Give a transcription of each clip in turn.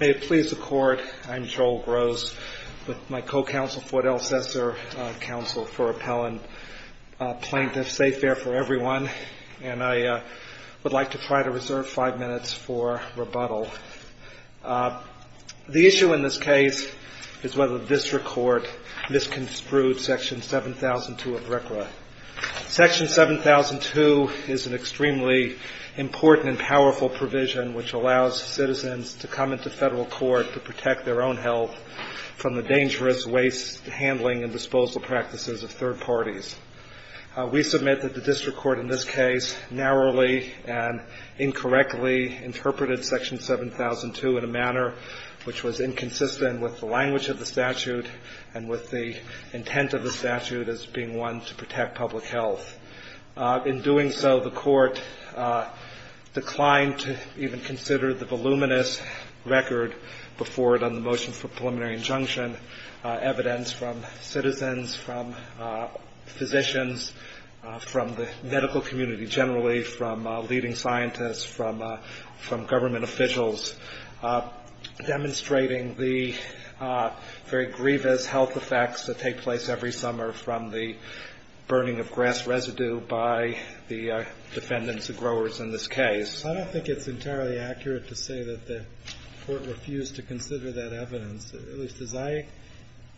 May it please the Court, I am Joel Grose with my co-counsel Ford El Cesar, counsel for Appellant Plaintiff Safe Air for Everyone, and I would like to try to reserve five minutes for rebuttal. The issue in this case is whether the district court misconstrued Section 7002 of RCRA. Section 7002 is an extremely important and powerful provision which allows citizens to come into federal court to protect their own health from the dangerous waste handling and disposal practices of third parties. We submit that the district court in this case narrowly and incorrectly interpreted Section 7002 in a manner which was inconsistent with the language of the statute and with the intent of the statute as being one to protect public health. In doing so, the court declined to even consider the voluminous record before it on the motion for preliminary injunction, evidence from citizens, from physicians, from the medical community generally, from leading scientists, from government officials, demonstrating the very grievous health effects that take place every summer from the burning of grass residue by the defendants and growers in this case. I don't think it's entirely accurate to say that the court refused to consider that evidence. At least as I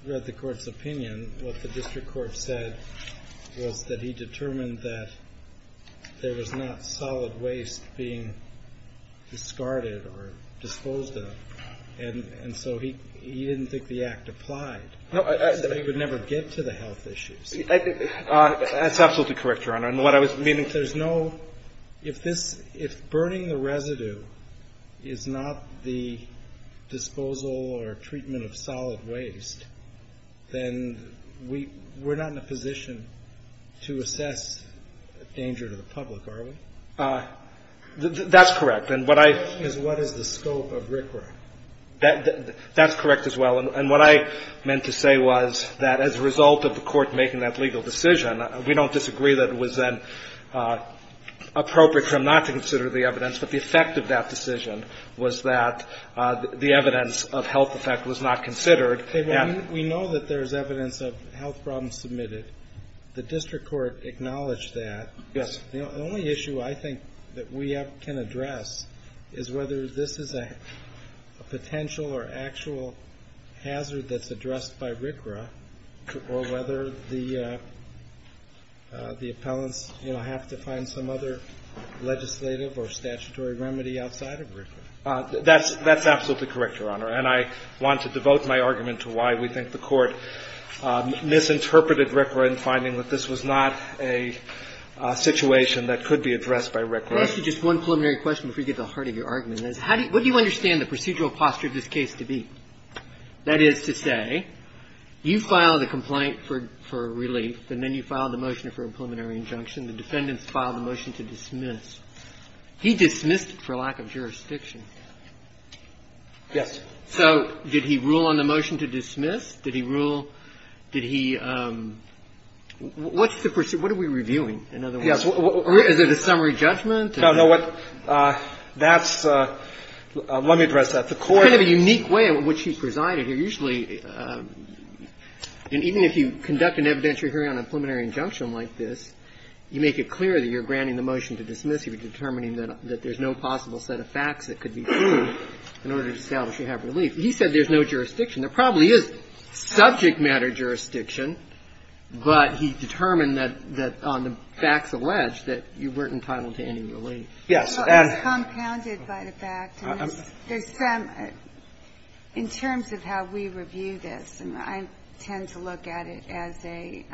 read the court's opinion, what the district court said was that he determined that there was not solid waste being discarded or disposed of. And so he didn't think the act applied. So he would never get to the health issues. That's absolutely correct, Your Honor. And what I was meaning to say is no, if this, if burning the residue is not the disposal or treatment of solid waste, then we're not in a position to assess danger to the public, are we? That's correct. Because what is the scope of RCRA? That's correct as well. And what I meant to say was that as a result of the court making that legal decision, we don't disagree that it was then appropriate for him not to consider the evidence, but the effect of that decision was that the evidence of health effect was not considered. We know that there's evidence of health problems submitted. The district court acknowledged that. Yes. The only issue I think that we can address is whether this is a potential or actual hazard that's addressed by RCRA or whether the appellants have to find some other legislative or statutory remedy outside of RCRA. That's absolutely correct, Your Honor. And I want to devote my argument to why we think the court misinterpreted RCRA in finding that this was not a situation that could be addressed by RCRA. Can I ask you just one preliminary question before you get to the heart of your argument? What do you understand the procedural posture of this case to be? That is to say, you file the complaint for relief, and then you file the motion for a preliminary injunction. The defendants file the motion to dismiss. He dismissed it for lack of jurisdiction. Yes. So did he rule on the motion to dismiss? Did he rule? Did he – what's the – what are we reviewing, in other words? Yes. Is it a summary judgment? No, no. That's – let me address that. The court – It's kind of a unique way in which he presided here. And even if you conduct an evidentiary hearing on a preliminary injunction like this, you make it clear that you're granting the motion to dismiss. You're determining that there's no possible set of facts that could be proved in order to establish you have relief. He said there's no jurisdiction. There probably is subject matter jurisdiction, but he determined that on the facts alleged that you weren't entitled to any relief. Yes. Well, it's compounded by the fact that there's some – in terms of how we review this, and I tend to look at it as a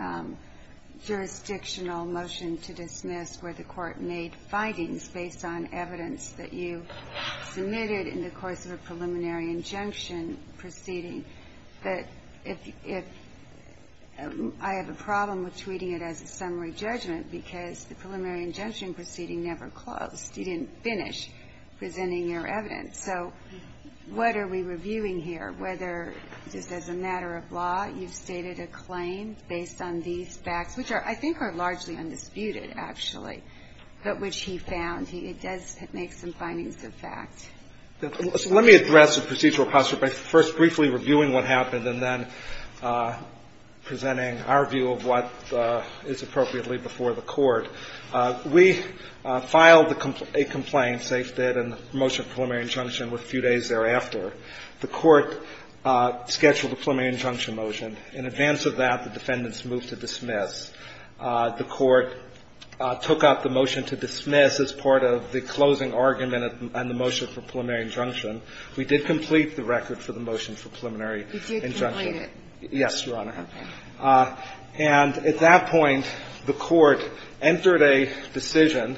jurisdictional motion to dismiss where the court made findings based on evidence that you submitted in the course of a preliminary injunction proceeding, that if – I have a problem with treating it as a summary judgment because the preliminary injunction proceeding never closed. You didn't finish presenting your evidence. So what are we reviewing here, whether, just as a matter of law, you've stated a claim based on these facts, which are – I think are largely undisputed, actually, but which he found he – it does make some findings of fact. So let me address the procedural posture by first briefly reviewing what happened and then presenting our view of what is appropriately before the Court. We filed a complaint, SAIF did, in the motion of preliminary injunction with a few days thereafter. The Court scheduled a preliminary injunction motion. In advance of that, the defendants moved to dismiss. The Court took up the motion to dismiss as part of the closing argument on the motion for preliminary injunction. We did complete the record for the motion for preliminary injunction. Kagan. Did you complete it? Yes, Your Honor. Okay. And at that point, the Court entered a decision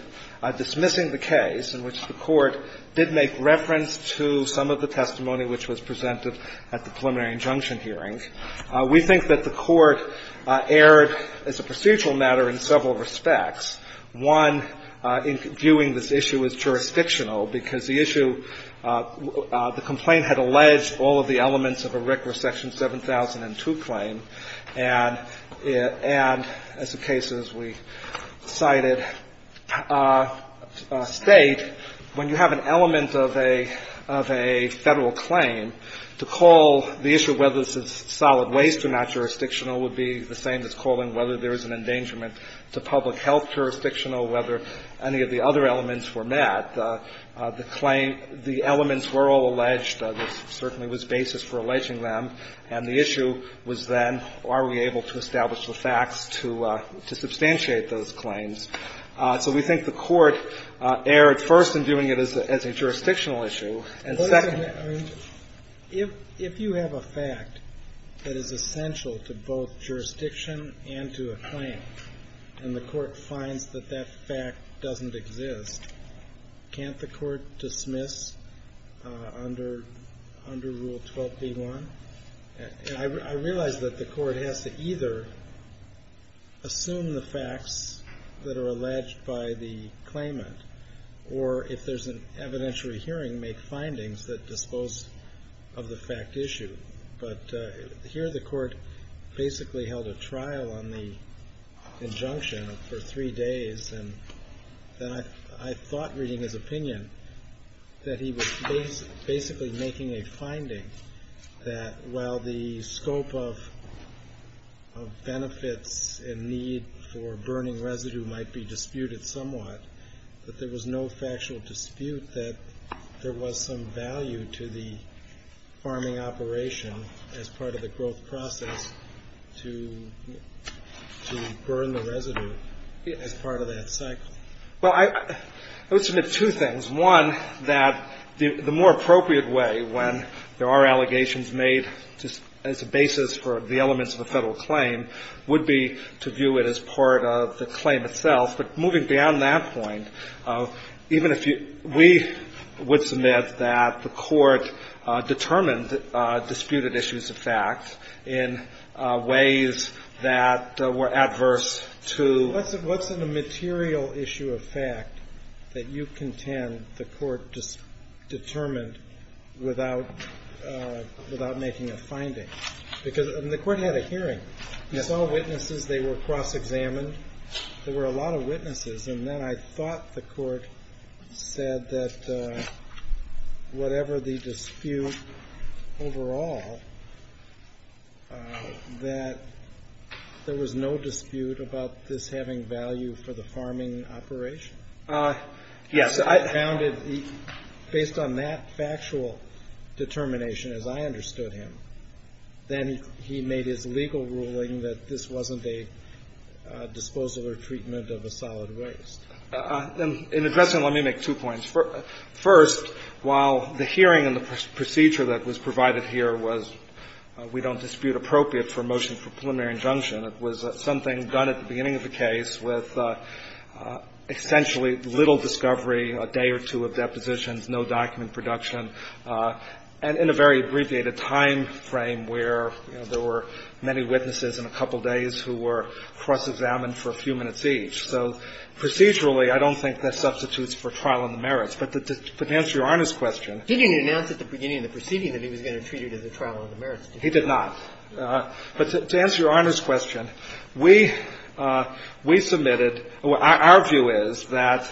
dismissing the case in which the Court did make reference to some of the testimony which was presented at the preliminary injunction hearing. We think that the Court erred as a procedural matter in several respects. One, in viewing this issue as jurisdictional, because the issue – the complaint had alleged all of the elements of a RIC were Section 7002 claim. And as a case, as we cited, State, when you have an element of a Federal claim, to call the issue whether this is solid waste or not jurisdictional would be the same as calling whether there is an endangerment to public health jurisdictional, whether any of the other elements were met. The claim – the elements were all alleged. There certainly was basis for alleging them. And the issue was then, are we able to establish the facts to substantiate those claims? So we think the Court erred, first, in doing it as a jurisdictional issue. And second – If you have a fact that is essential to both jurisdiction and to a claim, and the Court finds that that fact doesn't exist, can't the Court dismiss under Rule 12b-1? I realize that the Court has to either assume the facts that are alleged by the claimant or, if there's an evidentiary hearing, make findings that dispose of the fact issue. But here the Court basically held a trial on the injunction for three days. And I thought, reading his opinion, that he was basically making a finding that while the scope of benefits and need for burning residue might be disputed somewhat, that there was no factual dispute that there was some value to the farming operation as part of the growth process to burn the residue as part of that cycle. Well, I would submit two things. One, that the more appropriate way, when there are allegations made as a basis for the elements of a Federal claim, would be to view it as part of the claim itself. But moving beyond that point, even if you – we would submit that the Court determined disputed issues of fact in ways that were adverse to – What's a material issue of fact that you contend the Court determined without making a finding? Because the Court had a hearing. Yes. You saw witnesses. They were cross-examined. There were a lot of witnesses. And then I thought the Court said that whatever the dispute overall, that there was no dispute about this having value for the farming operation. Yes. Based on that factual determination, as I understood him, then he made his legal ruling that this wasn't a disposal or treatment of a solid waste. In addressing it, let me make two points. First, while the hearing and the procedure that was provided here was, we don't dispute appropriate for a motion for preliminary injunction, it was something done at the beginning of the case with essentially little discovery, a day or two of depositions, no document production, and in a very abbreviated timeframe where there were many witnesses in a couple of days who were cross-examined for a few minutes each. So procedurally, I don't think that substitutes for trial on the merits. But to answer Your Honor's question – He didn't announce at the beginning of the proceeding that he was going to treat it as a trial on the merits, did he? He did not. But to answer Your Honor's question, we submitted – our view is that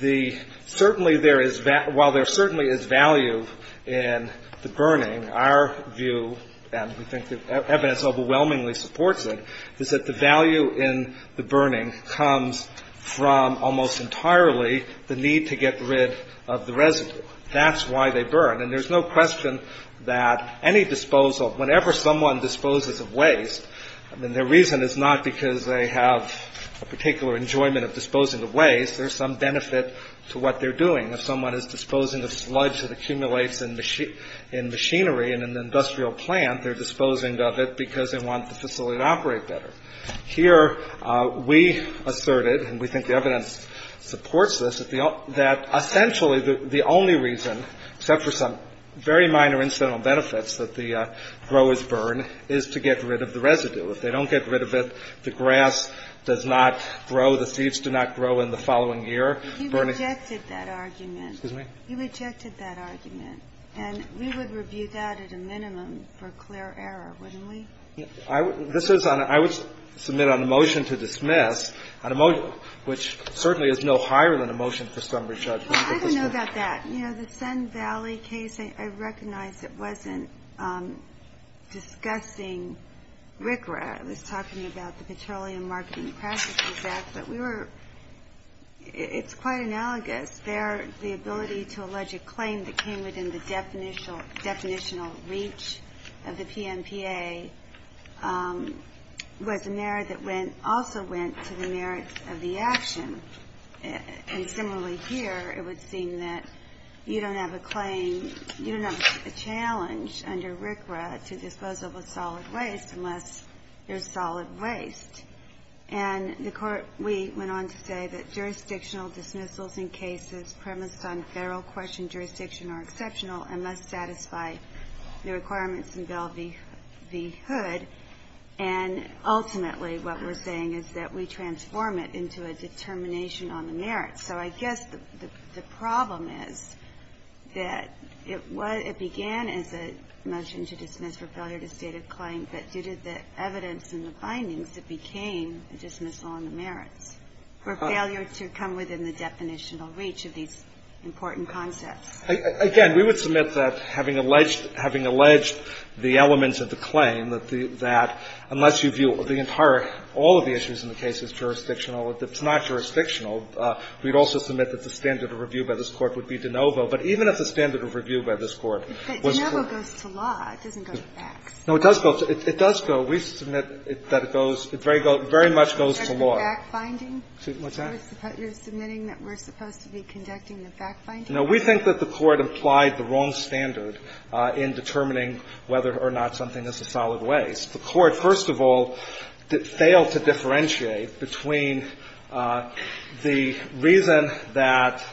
the – certainly there is – while there certainly is value in the burning, our view, and we think that evidence overwhelmingly supports it, is that the value in the burning comes from almost entirely the need to get rid of the residue. That's why they burn. And there's no question that any disposal – whenever someone disposes of waste, I mean, their reason is not because they have a particular enjoyment of disposing of waste. There's some benefit to what they're doing. If someone is disposing of sludge that accumulates in machinery in an industrial plant, they're disposing of it because they want the facility to operate better. Here, we asserted, and we think the evidence supports this, that essentially the only reason, except for some very minor incidental benefits that the growers burn, is to get rid of the residue. If they don't get rid of it, the grass does not grow, the seeds do not grow, and the following year, burning – You rejected that argument. Excuse me? You rejected that argument. And we would review that at a minimum for clear error, wouldn't we? I would – this is on – I would submit on a motion to dismiss, on a motion which certainly is no higher than a motion for summary judgment. I don't know about that. You know, the Sun Valley case, I recognize it wasn't discussing RCRA. It was talking about the Petroleum Marketing Practices Act, but we were – it's quite analogous. There, the ability to allege a claim that came within the definitional reach of the PNPA was a merit that went – also went to the merits of the action. And similarly here, it would seem that you don't have a claim – you don't have a challenge under RCRA to disposal of solid waste unless there's solid waste. And the Court – we went on to say that jurisdictional dismissals in cases premised on federal question jurisdiction are exceptional unless satisfied the requirements in Bell v. Hood. And ultimately, what we're saying is that we transform it into a determination on the merits. So I guess the problem is that it was – it began as a motion to dismiss for failure to state a claim, but due to the evidence and the findings, it became a dismissal on the merits for failure to come within the definitional reach of these important concepts. Again, we would submit that having alleged – having alleged the elements of the claim, that unless you view the entire – all of the issues in the case as jurisdictional or it's not jurisdictional, we'd also submit that the standard of review by this Court would be de novo. But even if the standard of review by this Court was correct. But de novo goes to law. It doesn't go to facts. No, it does go to – it does go. We submit that it goes – it very much goes to law. Is that the fact-finding? What's that? You're submitting that we're supposed to be conducting the fact-finding? No. We think that the Court implied the wrong standard in determining whether or not something is a solid waste. The Court, first of all, failed to differentiate between the reason that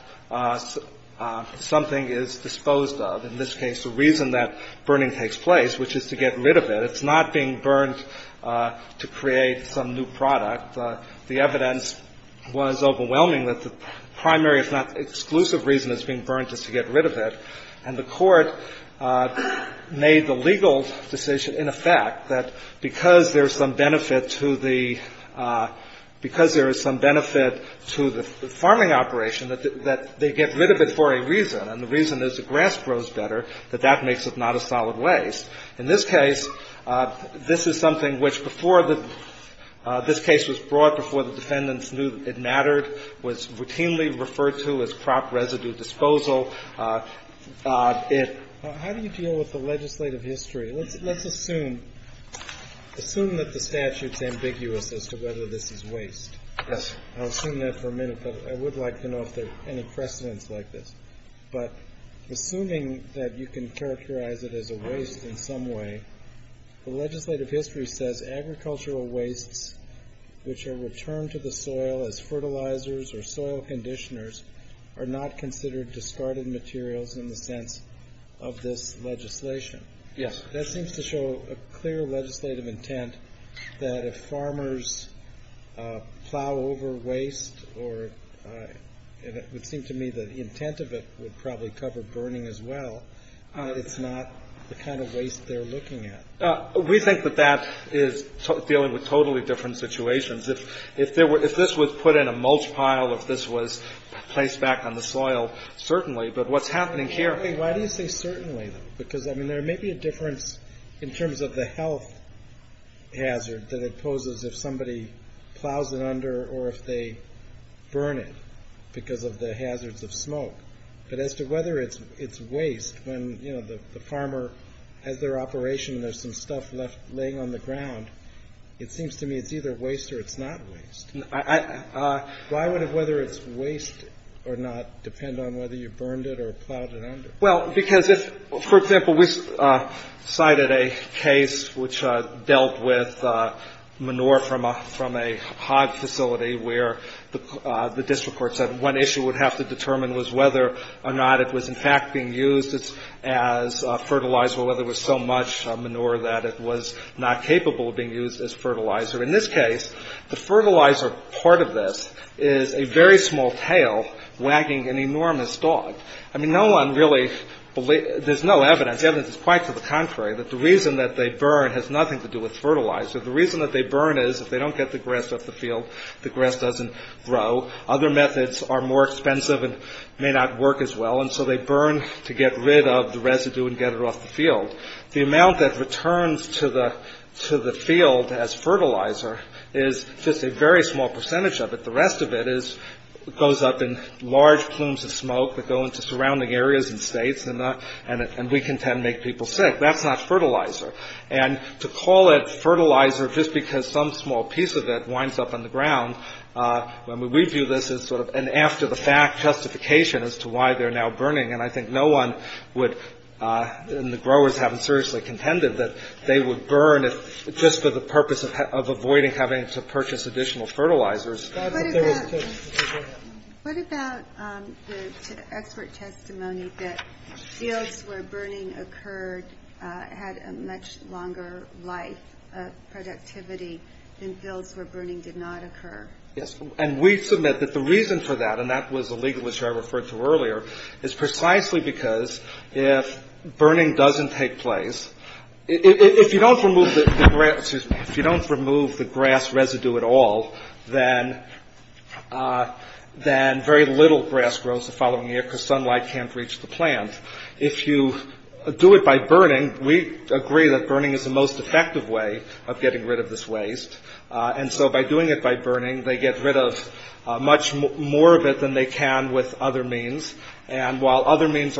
something is disposed of, in this case, the reason that burning takes place, which is to get rid of it. It's not being burned to create some new product. The evidence was overwhelming that the primary, if not exclusive, reason it's being burned is to get rid of it. And the Court made the legal decision, in effect, that because there's some benefit to the – because there is some benefit to the farming operation, that they get rid of it for a reason. And the reason is the grass grows better, that that makes it not a solid waste. In this case, this is something which before the – this case was brought before the defendants knew it mattered, was routinely referred to as crop residue disposal. If – How do you deal with the legislative history? Let's assume – assume that the statute's ambiguous as to whether this is waste. Yes. I'll assume that for a minute, but I would like to know if there are any precedents like this. But assuming that you can characterize it as a waste in some way, the legislative history says agricultural wastes which are returned to the soil as fertilizers or soil conditioners are not considered discarded materials in the sense of this legislation. Yes. That seems to show a clear legislative intent that if farmers plow over waste or – it would seem to me that the intent of it would probably cover burning as well. It's not the kind of waste they're looking at. We think that that is dealing with totally different situations. If there were – if this was put in a mulch pile, if this was placed back on the soil, certainly. But what's happening here – Why do you say certainly? Because, I mean, there may be a difference in terms of the health hazard that it poses if somebody plows it under or if they burn it because of the hazards of smoke. But as to whether it's waste when, you know, the farmer has their operation and there's some stuff left laying on the ground, it seems to me it's either waste or it's not waste. Why would whether it's waste or not depend on whether you burned it or plowed it under? Well, because if, for example, we cited a case which dealt with manure from a hog facility where the district court said one issue would have to determine was whether or not it was, in fact, being used as fertilizer where there was so much manure that it was not capable of being used as fertilizer. In this case, the fertilizer part of this is a very small tail wagging an enormous dog. I mean, no one really – there's no evidence. The evidence is quite to the contrary, that the reason that they burn has nothing to do with fertilizer. The reason that they burn is if they don't get the grass off the field, the grass doesn't grow. Other methods are more expensive and may not work as well. And so they burn to get rid of the residue and get it off the field. The amount that returns to the field as fertilizer is just a very small percentage of it. The rest of it goes up in large plumes of smoke that go into surrounding areas and states, and we contend make people sick. That's not fertilizer. And to call it fertilizer just because some small piece of it winds up on the ground, we view this as sort of an after-the-fact justification as to why they're now burning. And I think no one would – and the growers haven't seriously contended – that they would burn just for the purpose of avoiding having to purchase additional fertilizers. What about the expert testimony that fields where burning occurred had a much longer life of productivity than fields where burning did not occur? Yes. And we submit that the reason for that, and that was a legal issue I referred to earlier, is precisely because if burning doesn't take place, if you don't remove the grass residue at all, then very little grass grows the following year because sunlight can't reach the plant. If you do it by burning, we agree that burning is the most effective way of getting rid of this waste. And so by doing it by burning, they get rid of much more of it than they can with other means. And while other means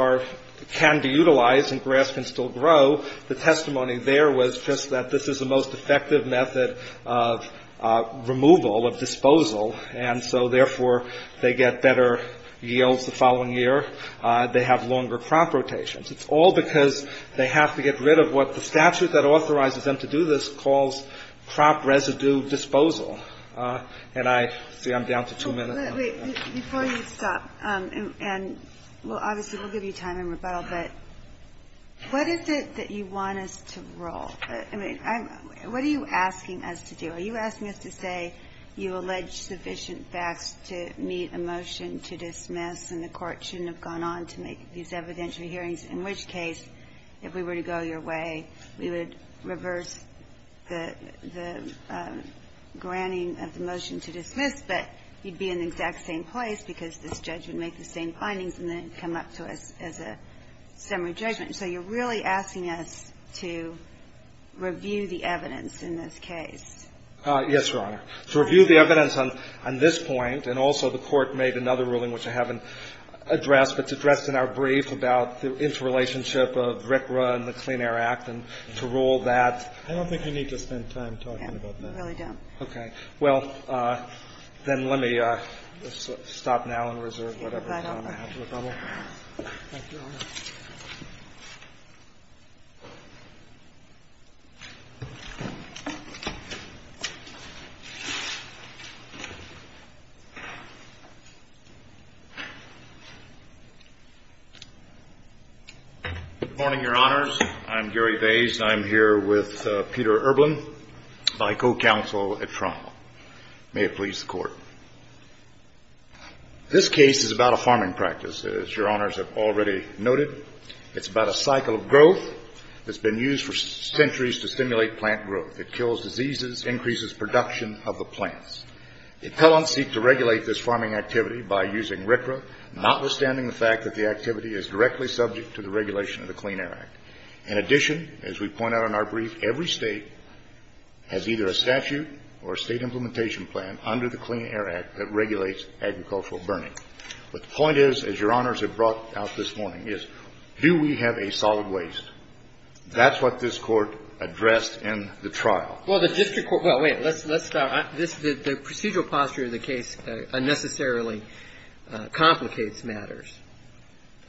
can be utilized and grass can still grow, the testimony there was just that this is the most effective method of removal, of disposal, and so therefore they get better yields the following year. They have longer crop rotations. It's all because they have to get rid of what the statute that authorizes them to do this calls crop residue disposal. And I – see, I'm down to two minutes. Before you stop, and obviously we'll give you time in rebuttal, but what is it that you want us to rule? I mean, what are you asking us to do? Are you asking us to say you allege sufficient facts to meet a motion to dismiss and the Court shouldn't have gone on to make these evidentiary hearings, in which case if we were to go your way, we would reverse the granting of the motion to dismiss, but you'd be in the exact same place because this judge would make the same findings and then come up to us as a summary judgment. So you're really asking us to review the evidence in this case? Yes, Your Honor. To review the evidence on this point, and also the Court made another ruling, which I haven't addressed, but it's addressed in our brief about the interrelationship of RCRA and the Clean Air Act, and to rule that. I don't think you need to spend time talking about that. I really don't. Okay. Well, then let me stop now and reserve whatever time I have for rebuttal. Thank you, Your Honor. Good morning, Your Honors. I'm Gary Vays, and I'm here with Peter Erblin, my co-counsel at trial. May it please the Court. This case is about a farming practice, as Your Honors have already noted. It's about a cycle of growth that's been used for centuries to stimulate plant growth. It kills diseases, increases production of the plants. The appellants seek to regulate this farming activity by using RCRA, notwithstanding the fact that the activity is directly subject to the regulation of the Clean Air Act. In addition, as we point out in our brief, every State has either a statute or a State implementation plan under the Clean Air Act that regulates agricultural burning. But the point is, as Your Honors have brought out this morning, is do we have a solid waste? That's what this Court addressed in the trial. Well, the district court – well, wait. Let's start. The procedural posture of the case unnecessarily complicates matters.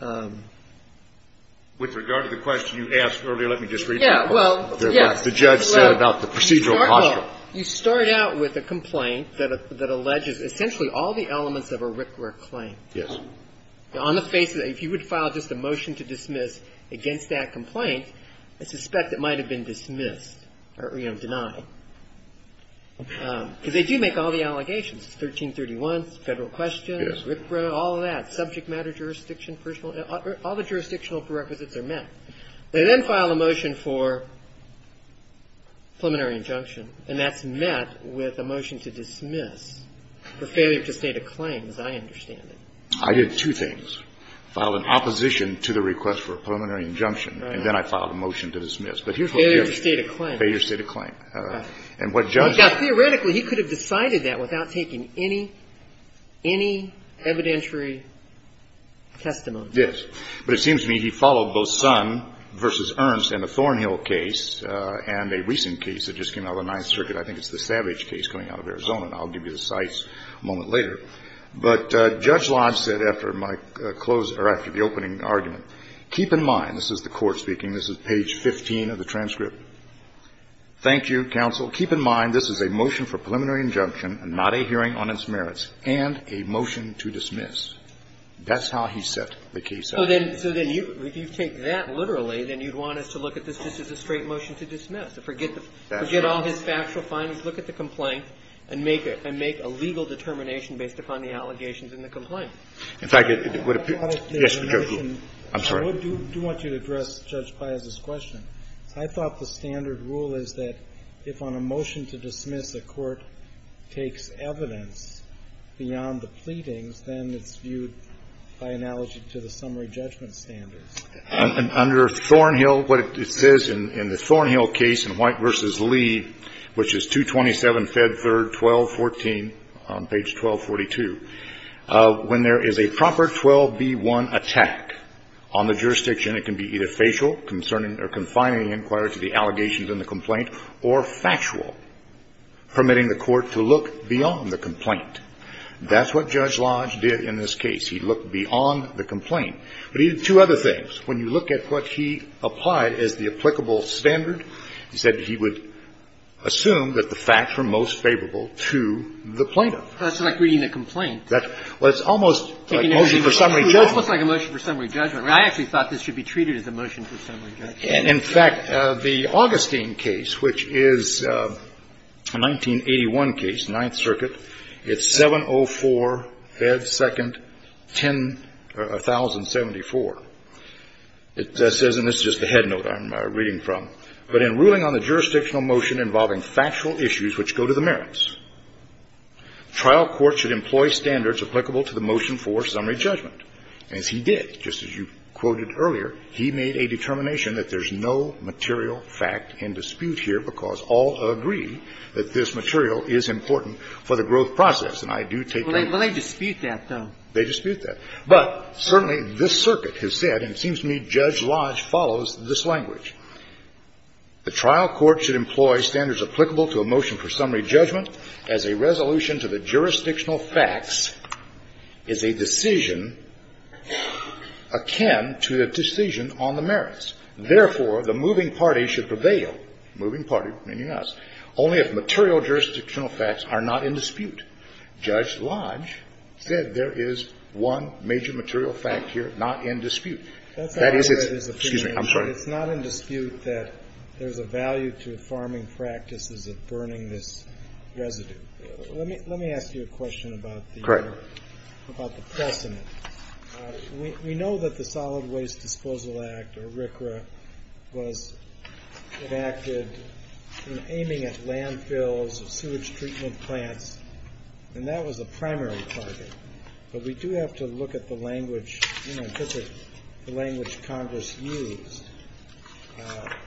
With regard to the question you asked earlier, let me just read it. Yeah, well, yes. The judge said about the procedural posture. You start out with a complaint that alleges essentially all the elements of a RCRA claim. Yes. On the face of it, if you would file just a motion to dismiss against that complaint, I suspect it might have been dismissed or, you know, denied. Because they do make all the allegations, 1331, Federal questions, RCRA, all of that, subject matter jurisdiction, all the jurisdictional prerequisites are met. They then file a motion for preliminary injunction, and that's met with a motion to dismiss for failure to state a claim, as I understand it. I did two things. Filed an opposition to the request for a preliminary injunction, and then I filed a motion to dismiss. Failure to state a claim. Failure to state a claim. Now, theoretically, he could have decided that without taking any, any evidentiary testimony. Yes. But it seems to me he followed both Son v. Ernst in the Thornhill case and a recent case that just came out of the Ninth Circuit. I think it's the Savage case coming out of Arizona. I'll give you the cites a moment later. But Judge Lodge said after my closing or after the opening argument, keep in mind, this is the Court speaking, this is page 15 of the transcript. Thank you, counsel. Keep in mind, this is a motion for preliminary injunction and not a hearing on its merits, and a motion to dismiss. That's how he set the case up. So then, so then you, if you take that literally, then you'd want us to look at this just as a straight motion to dismiss, to forget the, forget all his factual findings, look at the complaint, and make it, and make a legal determination based upon the allegations in the complaint. In fact, it would appear. Yes. I'm sorry. I do want you to address Judge Piazza's question. I thought the standard rule is that if on a motion to dismiss a court takes evidence beyond the pleadings, then it's viewed by analogy to the summary judgment standards. Under Thornhill, what it says in the Thornhill case in White v. Lee, which is 227, 1214 on page 1242, when there is a proper 12B1 attack on the jurisdiction, it can be either facial, concerning or confining inquiries to the allegations in the complaint, or factual, permitting the court to look beyond the complaint. That's what Judge Lodge did in this case. He looked beyond the complaint. But he did two other things. When you look at what he applied as the applicable standard, he said he would assume that the facts were most favorable to the plaintiff. That's like reading the complaint. Well, it's almost like a motion for summary judgment. It's almost like a motion for summary judgment. I actually thought this should be treated as a motion for summary judgment. In fact, the Augustine case, which is a 1981 case, Ninth Circuit, it's 704, Fed 2nd, 1074. It says, and this is just the headnote I'm reading from, but in ruling on the jurisdictional motion involving factual issues which go to the merits, trial court should employ standards applicable to the motion for summary judgment. And as he did, just as you quoted earlier, he made a determination that there's no material fact in dispute here because all agree that this material is important for the growth process. And I do take that. Well, they dispute that, though. They dispute that. But certainly this circuit has said, and it seems to me Judge Lodge follows this language. The trial court should employ standards applicable to a motion for summary judgment as a resolution to the jurisdictional facts is a decision akin to the decision on the merits. Therefore, the moving party should prevail. Moving party meaning us. Only if material jurisdictional facts are not in dispute. Judge Lodge said there is one major material fact here not in dispute. That is, excuse me, I'm sorry. It's not in dispute that there's a value to farming practices of burning this residue. Let me ask you a question about the precedent. We know that the Solid Waste Disposal Act, or RCRA, was enacted aiming at landfills, sewage treatment plants, and that was a primary target. But we do have to look at the language, the language Congress used.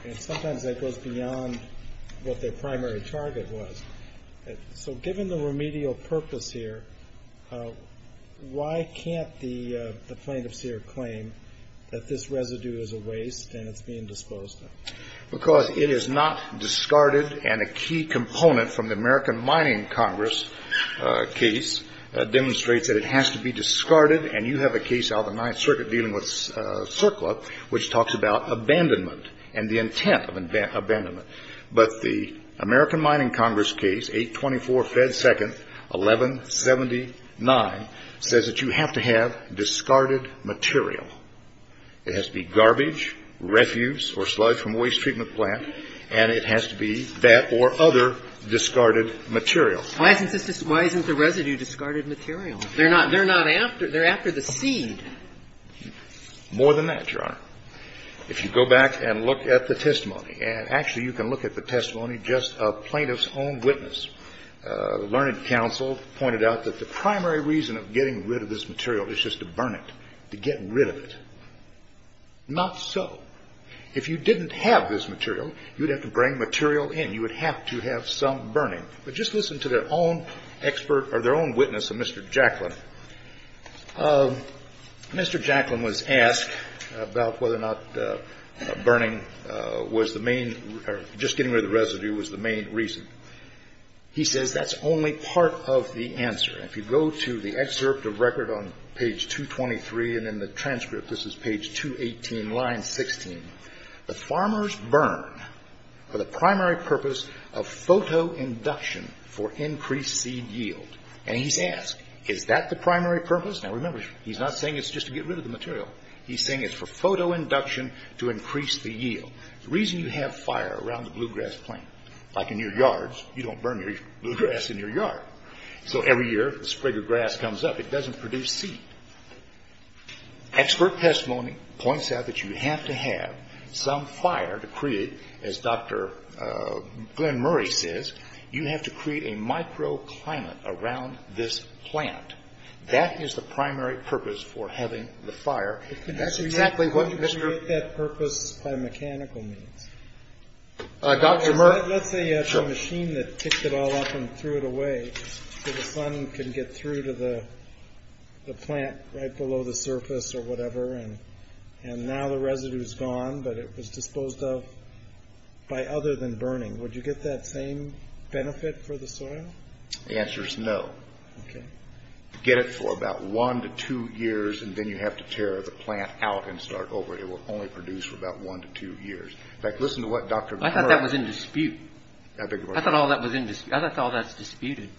And sometimes that goes beyond what their primary target was. So given the remedial purpose here, why can't the plaintiffs here claim that this residue is a waste and it's being disposed of? Because it is not discarded and a key component from the American Mining Congress case demonstrates that it has to be discarded. And you have a case out of the Ninth Circuit dealing with CERCLA, which talks about abandonment and the intent of abandonment. But the American Mining Congress case, 824 Fed 2nd, 1179, says that you have to have discarded material. It has to be garbage, refuse, or sludge from a waste treatment plant, and it has to be that or other discarded material. Why isn't the residue discarded material? They're not after the seed. More than that, Your Honor. If you go back and look at the testimony, and actually you can look at the testimony just of plaintiff's own witness. The learned counsel pointed out that the primary reason of getting rid of this material is just to burn it, to get rid of it. Not so. If you didn't have this material, you'd have to bring material in. You would have to have some burning. But just listen to their own expert or their own witness, Mr. Jacklin. Mr. Jacklin was asked about whether or not burning was the main or just getting rid of the residue was the main reason. He says that's only part of the answer. If you go to the excerpt of record on page 223 and in the transcript, this is page 218, the farmers burn for the primary purpose of photoinduction for increased seed yield. And he's asked, is that the primary purpose? Now, remember, he's not saying it's just to get rid of the material. He's saying it's for photoinduction to increase the yield. The reason you have fire around the bluegrass plant, like in your yards, you don't burn your bluegrass in your yard. So every year, if the sprig of grass comes up, it doesn't produce seed. Expert testimony points out that you have to have some fire to create. As Dr. Glenn Murray says, you have to create a microclimate around this plant. That is the primary purpose for having the fire. That's exactly what Mr.… Can you make that purpose by mechanical means? Dr. Murray? Let's say you have a machine that picked it all up and threw it away so the sun can get through to the plant right below the surface or whatever, and now the residue is gone, but it was disposed of by other than burning. Would you get that same benefit for the soil? The answer is no. You get it for about one to two years, and then you have to tear the plant out and start over. It will only produce for about one to two years. In fact, listen to what Dr.… I thought that was in dispute. I beg your pardon? I thought all that was in dispute. I thought all that was disputed.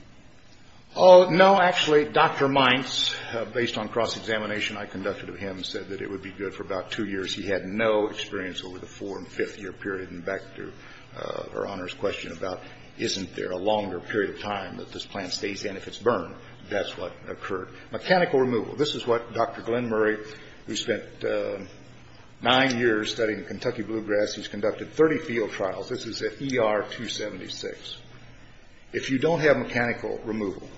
No, actually, Dr. Mines, based on cross-examination I conducted of him, said that it would be good for about two years. He had no experience over the four- and fifth-year period. Back to Her Honor's question about isn't there a longer period of time that this plant stays in if it's burned. That's what occurred. Mechanical removal. This is what Dr. Glenn Murray, who spent nine years studying Kentucky bluegrass, he's conducted 30 field trials. This is at ER 276. If you don't have mechanical removal,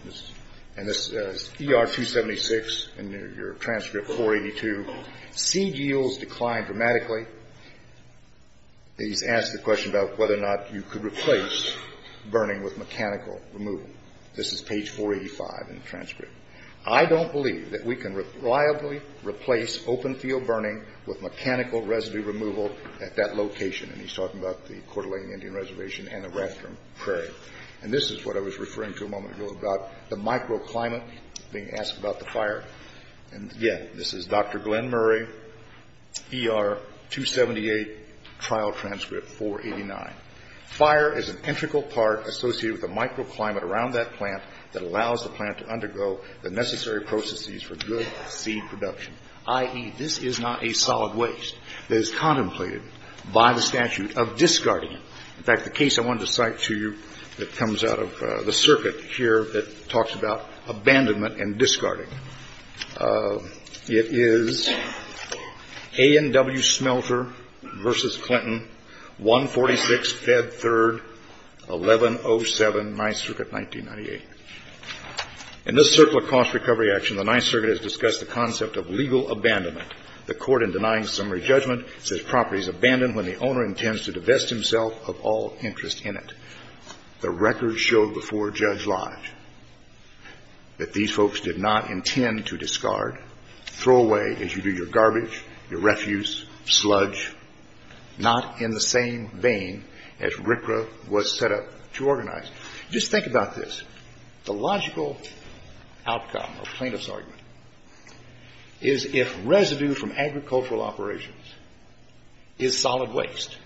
and this is ER 276 in your transcript 482, seed yields decline dramatically. He's asked the question about whether or not you could replace burning with mechanical removal. This is page 485 in the transcript. I don't believe that we can reliably replace open field burning with mechanical residue removal at that location. And he's talking about the Coeur d'Alene Indian Reservation and the Rathdrum Prairie. And this is what I was referring to a moment ago about the microclimate being asked about the fire. And, yeah, this is Dr. Glenn Murray, ER 278, trial transcript 489. Fire is an integral part associated with the microclimate around that plant that allows the plant to undergo the necessary processes for good seed production, i.e., this is not a solid waste that is contemplated by the statute of discarding it. In fact, the case I wanted to cite to you that comes out of the circuit here that talks about abandonment and discarding. It is A&W Smelter v. Clinton, 146, Fed 3rd, 1107, 9th Circuit, 1998. In this circle of cost recovery action, the 9th Circuit has discussed the concept of legal abandonment. The court in denying summary judgment says property is abandoned when the owner intends to divest himself of all interest in it. The record showed before Judge Lodge that these folks did not intend to discard, throw away as you do your garbage, your refuse, sludge, not in the same vein as RCRA was set up to organize. Just think about this. The logical outcome or plaintiff's argument is if residue from agricultural operations is solid waste,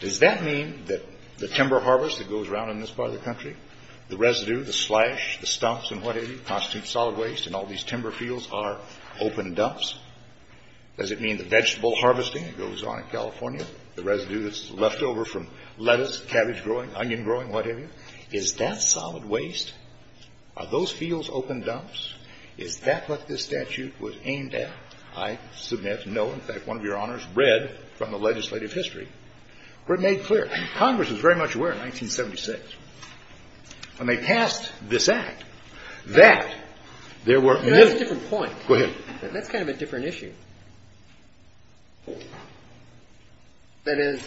does that mean that the timber harvest that goes around in this part of the country, the residue, the sludge, the stumps and what have you constitute solid waste and all these timber fields are open dumps? Does it mean the vegetable harvesting that goes on in California, the residue that's left over from lettuce, cabbage growing, onion growing, what have you, is that solid waste? Are those fields open dumps? Is that what this statute was aimed at? I submit no. In fact, one of Your Honors read from the legislative history where it made clear. Congress was very much aware in 1976 when they passed this Act that there were. That's a different point. Go ahead. That's kind of a different issue. That is,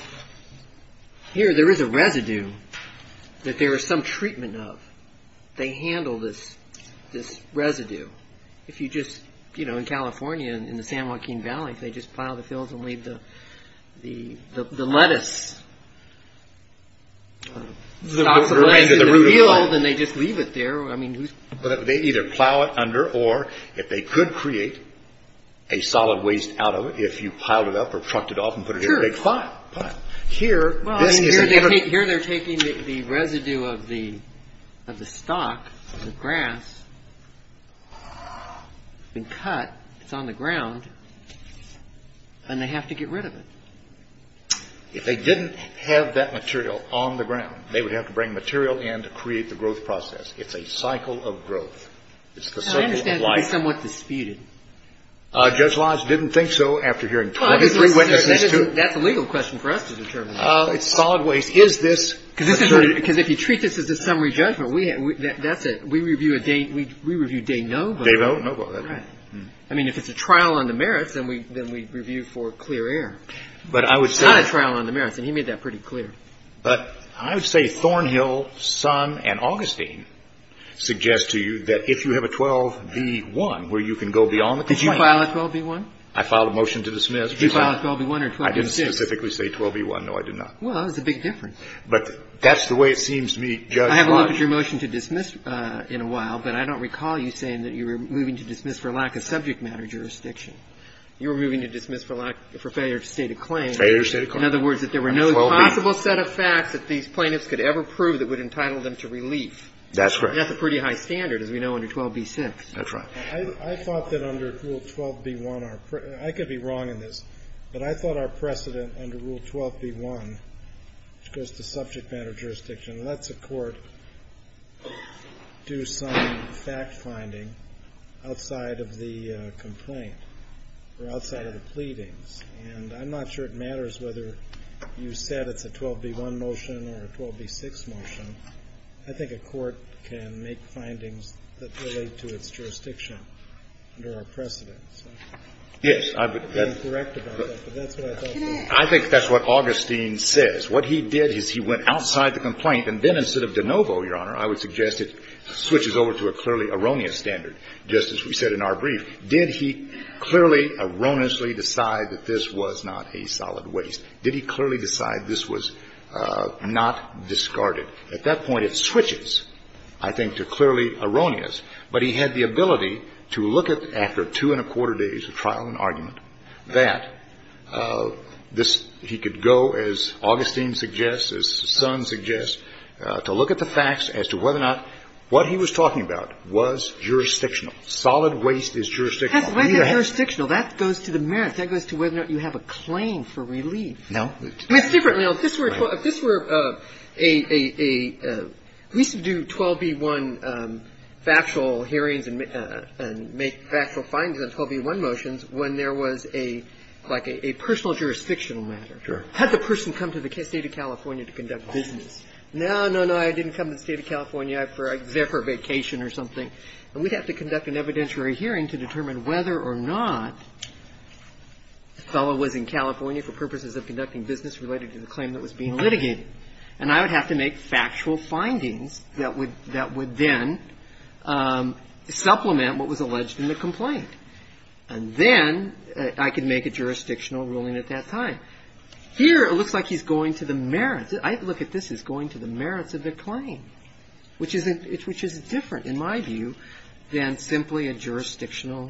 here there is a residue that there is some treatment of. They handle this residue. If you just, you know, in California, in the San Joaquin Valley, if they just plow the fields and leave the lettuce. The root of the field. Then they just leave it there. They either plow it under or if they could create a solid waste out of it, if you piled it up or trucked it off and put it in a big pile. Here they're taking the residue of the stock, the grass, and cut. It's on the ground and they have to get rid of it. If they didn't have that material on the ground, they would have to bring material in to create the growth process. It's a cycle of growth. It's the cycle of life. I understand it can be somewhat disputed. Judge Lodge didn't think so after hearing 23 witnesses. That's a legal question for us to determine. It's solid waste. Is this? Because if you treat this as a summary judgment, that's it. We review day no vote. Day vote, no vote. Right. I mean, if it's a trial on the merits, then we review for clear air. But I would say. It's not a trial on the merits. And he made that pretty clear. But I would say Thornhill, Son, and Augustine suggest to you that if you have a 12B1 where you can go beyond the claim. Did you file a 12B1? I filed a motion to dismiss. Did you file a 12B1 or 12B6? I didn't specifically say 12B1. No, I did not. Well, that was a big difference. But that's the way it seems to me, Judge Lodge. I haven't looked at your motion to dismiss in a while, but I don't recall you saying that you were moving to dismiss for lack of subject matter jurisdiction. You were moving to dismiss for failure to state a claim. Failure to state a claim. In other words, that there were no possible set of facts that these plaintiffs could ever prove that would entitle them to relief. That's right. That's a pretty high standard, as we know, under 12B6. That's right. I thought that under Rule 12B1, I could be wrong in this, but I thought our precedent under Rule 12B1, which goes to subject matter jurisdiction, lets a court do some fact-finding outside of the complaint or outside of the pleadings. And I'm not sure it matters whether you said it's a 12B1 motion or a 12B6 motion. I think a court can make findings that relate to its jurisdiction under our precedent. Yes. I would be incorrect about that, but that's what I thought. I think that's what Augustine says. What he did is he went outside the complaint. And then instead of de novo, Your Honor, I would suggest it switches over to a clearly erroneous standard, just as we said in our brief. Did he clearly, erroneously decide that this was not a solid waste? Did he clearly decide this was not discarded? At that point, it switches, I think, to clearly erroneous. But he had the ability to look at, after two and a quarter days of trial and argument, that this he could go, as Augustine suggests, as the son suggests, to look at the facts as to whether or not what he was talking about was jurisdictional. Solid waste is jurisdictional. That's not jurisdictional. That goes to the merits. That goes to whether or not you have a claim for relief. No. I mean, it's different. If this were a we used to do 12b-1 factual hearings and make factual findings on 12b-1 motions when there was a like a personal jurisdictional matter. Sure. Had the person come to the State of California to conduct business. No, no, no. I didn't come to the State of California. I was there for a vacation or something. And we'd have to conduct an evidentiary hearing to determine whether or not the fellow was in California for purposes of conducting business related to the claim that was being litigated. And I would have to make factual findings that would then supplement what was alleged in the complaint. And then I could make a jurisdictional ruling at that time. Here, it looks like he's going to the merits. I look at this as going to the merits of the claim, which is different, in my view, than simply a jurisdictional,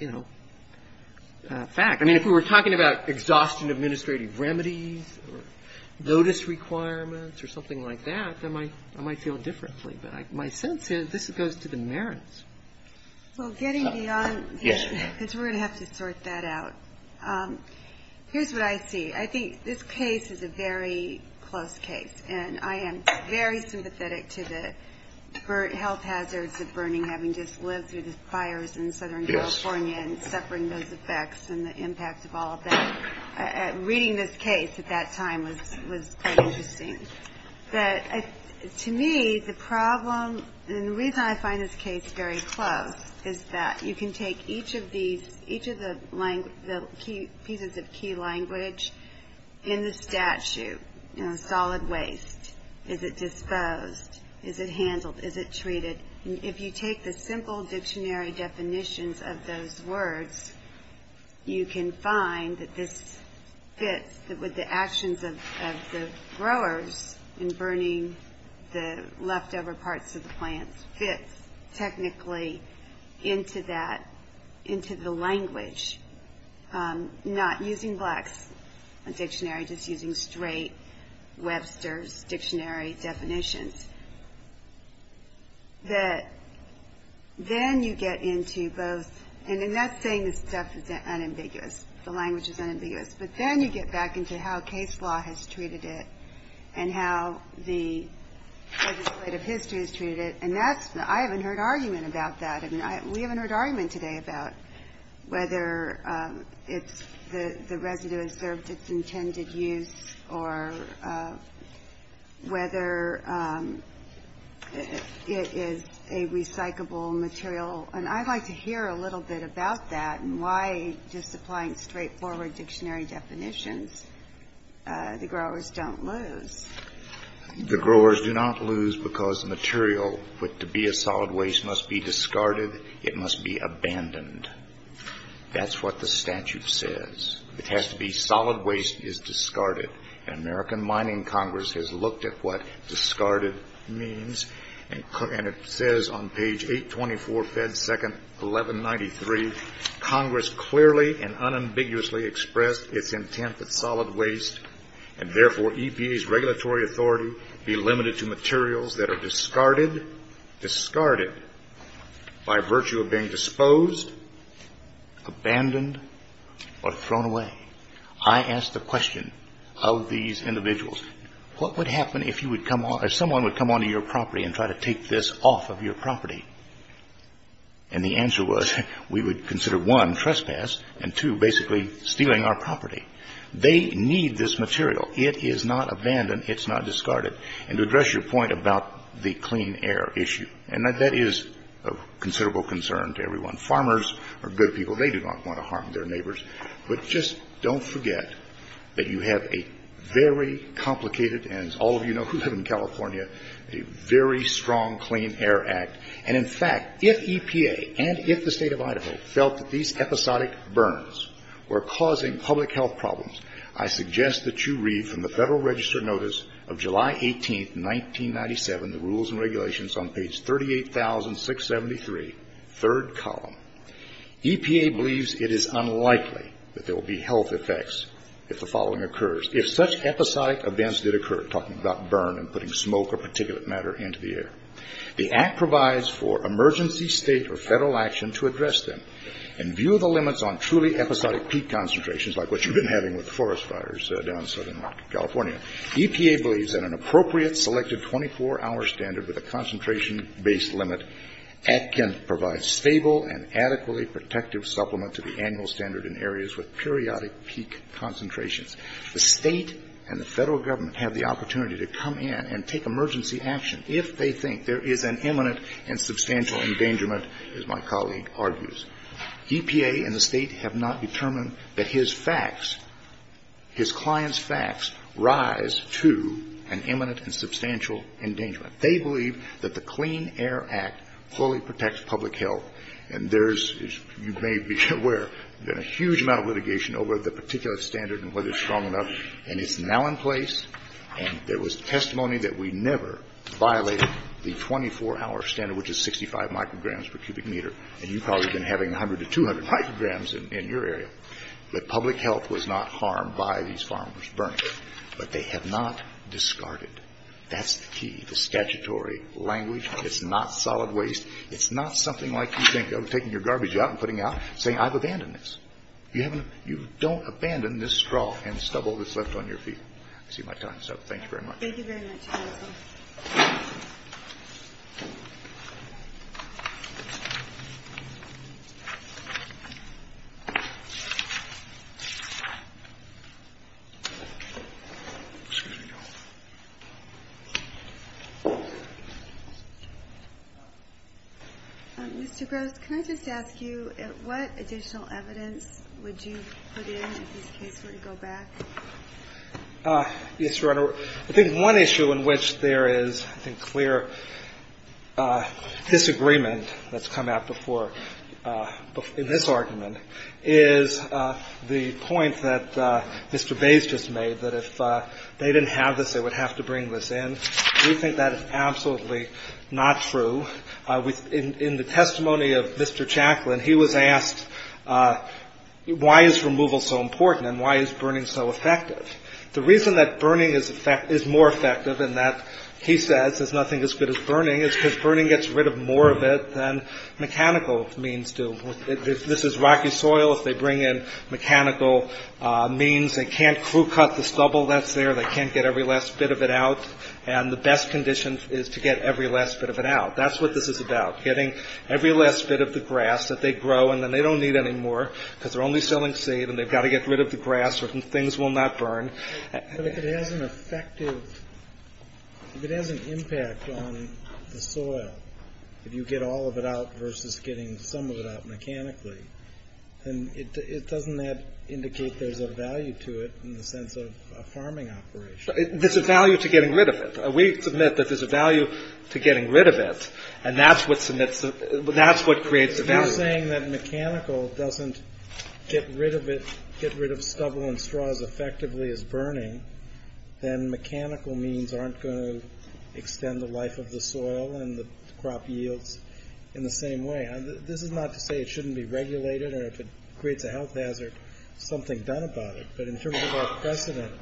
you know, fact. I mean, if we were talking about exhaustion of administrative remedies or notice requirements or something like that, I might feel differently. But my sense is this goes to the merits. Well, getting beyond this, because we're going to have to sort that out, here's what I see. I think this case is a very close case. And I am very sympathetic to the health hazards of burning, having just lived through the fires in southern California and suffering those effects and the impact of all of that. Reading this case at that time was quite interesting. But to me, the problem and the reason I find this case very close is that you can take each of these, each of the pieces of key language in the statute, you know, solid waste. Is it disposed? Is it handled? Is it treated? If you take the simple dictionary definitions of those words, you can find that this fits with the actions of the growers in burning the leftover parts of the plants, fits technically into that, into the language, not using Black's dictionary, just using straight Webster's dictionary definitions. That then you get into both, and that's saying this stuff is unambiguous, the language is unambiguous, but then you get back into how case law has treated it and how the legislative history has treated it. And that's, I haven't heard argument about that. I mean, we haven't heard argument today about whether it's the residue has served its intended use or whether it is a recyclable material. And I'd like to hear a little bit about that and why just applying straightforward dictionary definitions, the growers don't lose. The growers do not lose because the material to be a solid waste must be discarded. It must be abandoned. That's what the statute says. It has to be solid waste is discarded. And American Mining Congress has looked at what discarded means. And it says on page 824, Fed 2nd, 1193, Congress clearly and unambiguously expressed its intent that solid waste and therefore EPA's regulatory authority be limited to materials that are discarded, discarded by virtue of being disposed, abandoned, or thrown away. I asked the question of these individuals, what would happen if you would come on, if someone would come onto your property and try to take this off of your property? And the answer was we would consider, one, trespass, and two, basically stealing our property. They need this material. It is not abandoned. It's not discarded. And to address your point about the clean air issue, and that is a considerable concern to everyone. Farmers are good people. They do not want to harm their neighbors. But just don't forget that you have a very complicated, and as all of you know who live in California, a very strong Clean Air Act. And, in fact, if EPA and if the State of Idaho felt that these episodic burns were causing public health problems, I suggest that you read from the Federal Register Notice of July 18, 1997, the rules and regulations on page 38,673, third column. EPA believes it is unlikely that there will be health effects if the following occurs, if such episodic events did occur, talking about burn and putting smoke or particulate matter into the air. The Act provides for emergency State or Federal action to address them and view the limits on truly episodic peak concentrations, like what you've been having with forest fires down in Southern California. EPA believes that an appropriate selected 24-hour standard with a concentration-based limit can provide stable and adequately protective supplement to the annual standard in areas with periodic peak concentrations. The State and the Federal Government have the opportunity to come in and take emergency action if they think there is an imminent and substantial endangerment, as my colleague argues. EPA and the State have not determined that his facts, his clients' facts, rise to an imminent and substantial endangerment. They believe that the Clean Air Act fully protects public health. And there's, as you may be aware, been a huge amount of litigation over the particulate standard and whether it's strong enough. And it's now in place. And there was testimony that we never violated the 24-hour standard, which is 65 micrograms per cubic meter. And you've probably been having 100 to 200 micrograms in your area. But public health was not harmed by these farmers burning. But they have not discarded. That's the key, the statutory language. It's not solid waste. It's not something like you think of taking your garbage out and putting out, saying, I've abandoned this. You haven't. You don't abandon this straw and stubble that's left on your feet. I see my time is up. Thank you very much. Thank you very much, counsel. Mr. Gross, can I just ask you, what additional evidence would you put in if this case were to go back? Yes, Your Honor. I think one issue in which there is, I think, clear disagreement that's come out before in this argument is the point that Mr. Bates just made, that if they didn't have this, they would have to bring this in. We think that is absolutely not true. In the testimony of Mr. Chaplin, he was asked, why is removal so important and why is burning so effective? The reason that burning is more effective and that, he says, is nothing as good as burning, is because burning gets rid of more of it than mechanical means do. If this is rocky soil, if they bring in mechanical means, they can't crew cut the stubble that's there. They can't get every last bit of it out. And the best condition is to get every last bit of it out. That's what this is about, getting every last bit of the grass that they grow and then they don't need anymore because they're only selling seed and they've got to get rid of the grass or things will not burn. But if it has an effective, if it has an impact on the soil, if you get all of it out versus getting some of it out mechanically, then it doesn't indicate there's a value to it in the sense of a farming operation. There's a value to getting rid of it. We submit that there's a value to getting rid of it and that's what creates the value. If you're saying that mechanical doesn't get rid of it, get rid of stubble and straw as effectively as burning, then mechanical means aren't going to extend the life of the soil and the crop yields in the same way. This is not to say it shouldn't be regulated or if it creates a health hazard, something done about it. But in terms of our precedent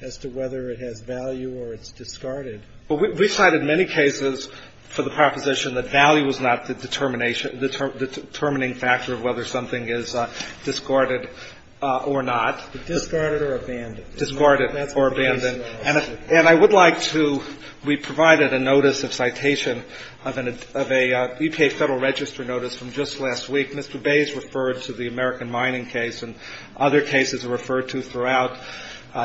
as to whether it has value or it's discarded. We cited many cases for the proposition that value was not the determining factor of whether something is discarded or not. Discarded or abandoned. Discarded or abandoned. And I would like to, we provided a notice of citation of an EPA Federal Register notice from just last week. Mr. Bays referred to the American mining case and other cases are referred to throughout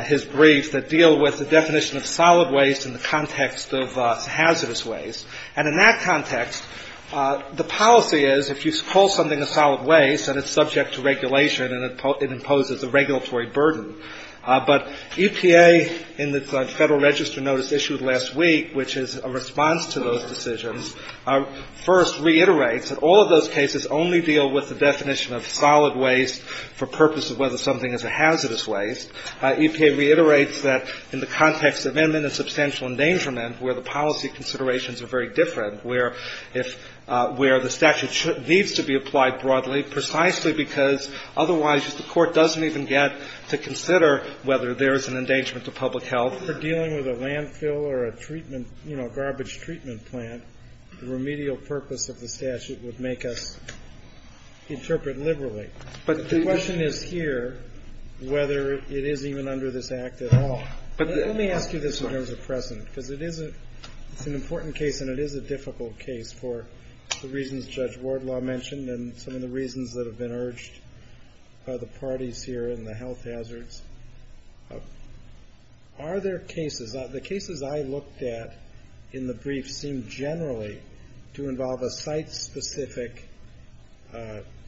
his briefs that deal with the definition of solid waste in the context of hazardous waste. And in that context, the policy is if you call something a solid waste and it's subject to regulation and it imposes a regulatory burden. But EPA in the Federal Register notice issued last week, which is a response to those decisions, first reiterates that all of those cases only deal with the definition of solid waste for purpose of whether something is a hazardous waste. EPA reiterates that in the context of imminent substantial endangerment, where the policy considerations are very different, where if, where the statute needs to be applied broadly precisely because otherwise, the court doesn't even get to consider whether there is an endangerment to public health. If we're dealing with a landfill or a treatment, you know, garbage treatment plant, the remedial purpose of the statute would make us interpret liberally. But the question is here whether it is even under this act at all. Let me ask you this in terms of precedent because it is an important case and it is a difficult case for the reasons Judge Wardlaw mentioned and some of the reasons that have been urged by the parties here in the health hazards. Are there cases, the cases I looked at in the brief seem generally to involve a site specific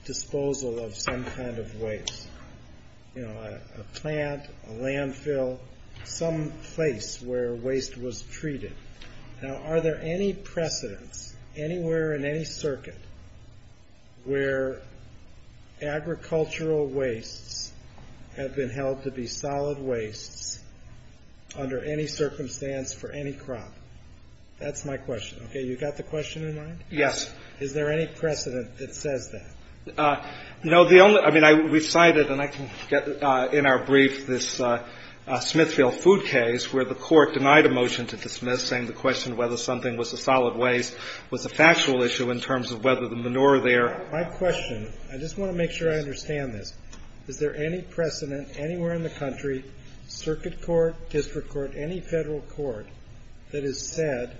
disposal of some kind of waste, you know, a plant, a landfill, some place where waste was treated. Now, are there any precedents anywhere in any circuit where agricultural wastes have been held to be solid wastes under any circumstance for any crop? That's my question. Okay. You got the question in mind? Yes. Is there any precedent that says that? You know, the only, I mean, we cited and I can get in our brief this Smithfield food case where the court denied a motion to dismiss, saying the question whether something was a solid waste was a factual issue in terms of whether the manure there. My question, I just want to make sure I understand this. Is there any precedent anywhere in the country, circuit court, district court, any federal court that has said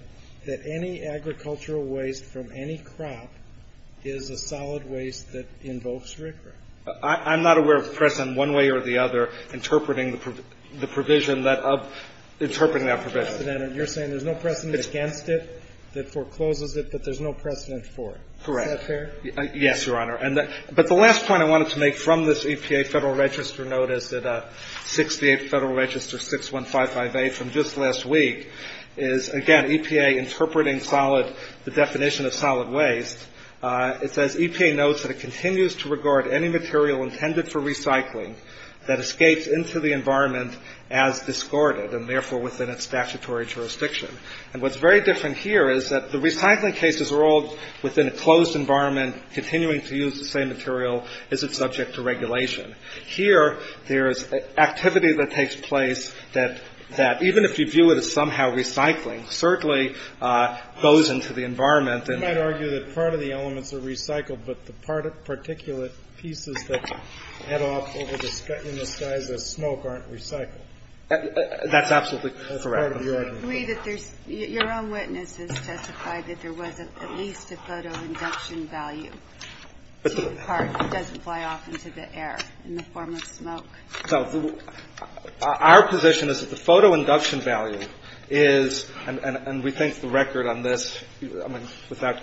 that any agricultural waste from any crop is a solid waste that invokes RCRA? I'm not aware of precedent one way or the other interpreting the provision that, interpreting that provision. You're saying there's no precedent against it that forecloses it, but there's no precedent for it. Correct. Is that fair? Yes, Your Honor. But the last point I wanted to make from this EPA Federal Register notice, 68 Federal Register 61558 from just last week, is, again, EPA interpreting solid, the definition of solid waste. It says, EPA notes that it continues to regard any material intended for recycling that escapes into the environment as discarded, and therefore within its statutory jurisdiction. And what's very different here is that the recycling cases are all within a closed environment, continuing to use the same material as is subject to regulation. Here, there is activity that takes place that, even if you view it as somehow recycling, certainly goes into the environment and You might argue that part of the elements are recycled, but the particulate pieces that head off in the sky as smoke aren't recycled. That's absolutely correct. I agree that there's Your own witness has testified that there was at least a photoinduction value to a part that doesn't fly off into the air in the form of smoke. So our position is that the photoinduction value is, and we think the record on this, I mean, without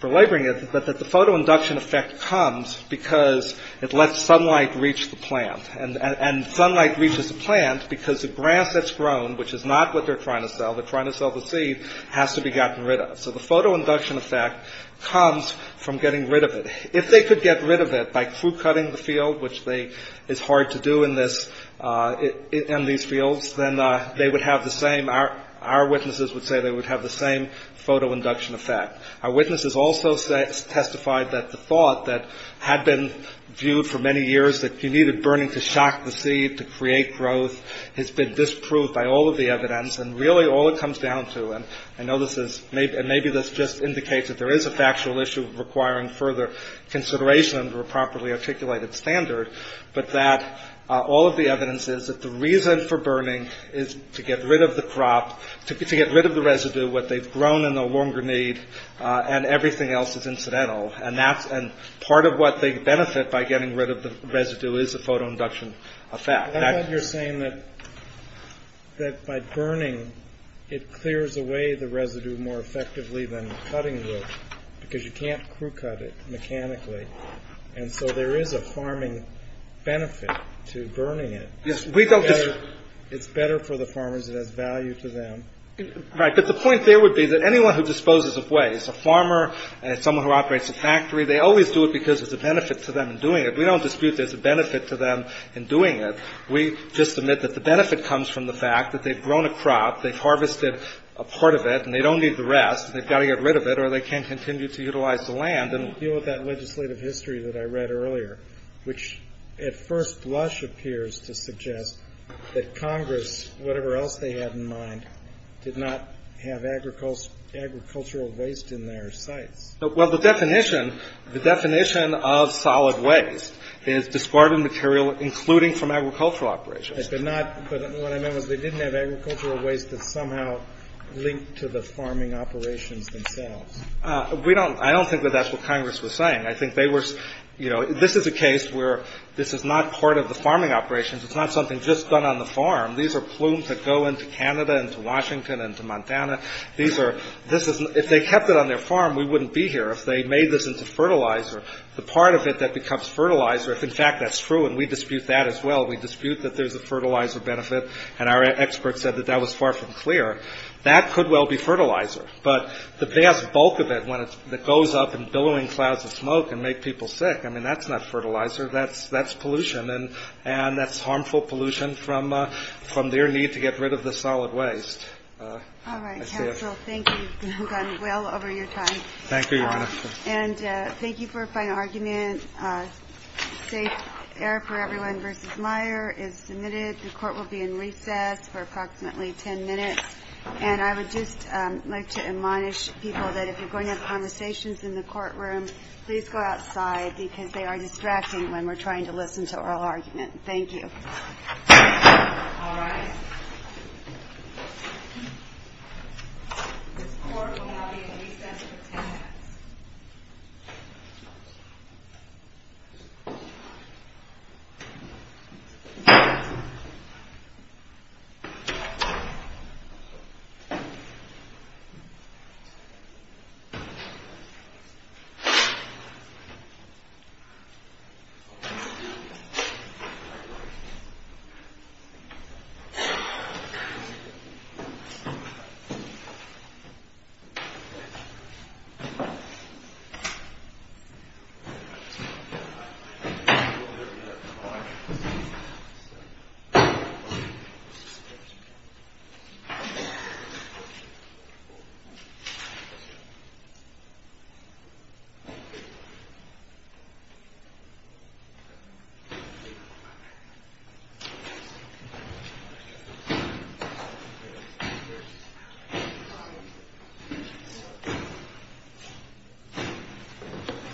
belaboring it, but that the photoinduction effect comes because it lets sunlight reach the plant. And sunlight reaches the plant because the grass that's grown, which is not what they're trying to sell, they're trying to sell the seed, has to be gotten rid of. So the photoinduction effect comes from getting rid of it. If they could get rid of it by fruit-cutting the field, which is hard to do in these fields, then they would have the same, our witnesses would say they would have the same photoinduction effect. Our witnesses also testified that the thought that had been viewed for many years that you needed burning to shock the seed, to create growth, has been disproved by all of the evidence. And really all it comes down to, and I know this is, and maybe this just indicates that there is a factual issue requiring further consideration under a properly articulated standard, but that all of the evidence is that the reason for burning is to get rid of the crop, to get rid of the residue, what they've grown and no longer need, and everything else is incidental. And part of what they benefit by getting rid of the residue is the photoinduction effect. I thought you were saying that by burning it clears away the residue more effectively than cutting wood, because you can't crew-cut it mechanically. And so there is a farming benefit to burning it. Yes, we don't disagree. It's better for the farmers. It has value to them. Right. But the point there would be that anyone who disposes of waste, a farmer, someone who operates a factory, they always do it because there's a benefit to them in doing it. We don't dispute there's a benefit to them in doing it. We just admit that the benefit comes from the fact that they've grown a crop, they've harvested a part of it, and they don't need the rest, and they've got to get rid of it or they can't continue to utilize the land. I don't agree with that legislative history that I read earlier, which at first blush appears to suggest that Congress, whatever else they had in mind, did not have agricultural waste in their sites. Well, the definition of solid waste is discarded material, including from agricultural operations. But what I meant was they didn't have agricultural waste that's somehow linked to the farming operations themselves. We don't – I don't think that that's what Congress was saying. I think they were – you know, this is a case where this is not part of the farming operations. It's not something just done on the farm. These are plumes that go into Canada and to Washington and to Montana. These are – this is – if they kept it on their farm, we wouldn't be here. If they made this into fertilizer, the part of it that becomes fertilizer, if in fact that's true, and we dispute that as well, we dispute that there's a fertilizer benefit, and our experts said that that was far from clear, that could well be fertilizer. But the vast bulk of it that goes up in billowing clouds of smoke and make people sick, I mean, that's not fertilizer. That's pollution. And that's harmful pollution from their need to get rid of the solid waste. All right. Counsel, thank you. You've gone well over your time. Thank you, Your Honor. And thank you for a fine argument. Safe air for everyone v. Meyer is submitted. The court will be in recess for approximately 10 minutes. And I would just like to admonish people that if you're going to have conversations in the courtroom, please go outside because they are distracting when we're trying to listen to oral argument. Thank you. All right. The court will now be in recess for 10 minutes. Thank you. Thank you.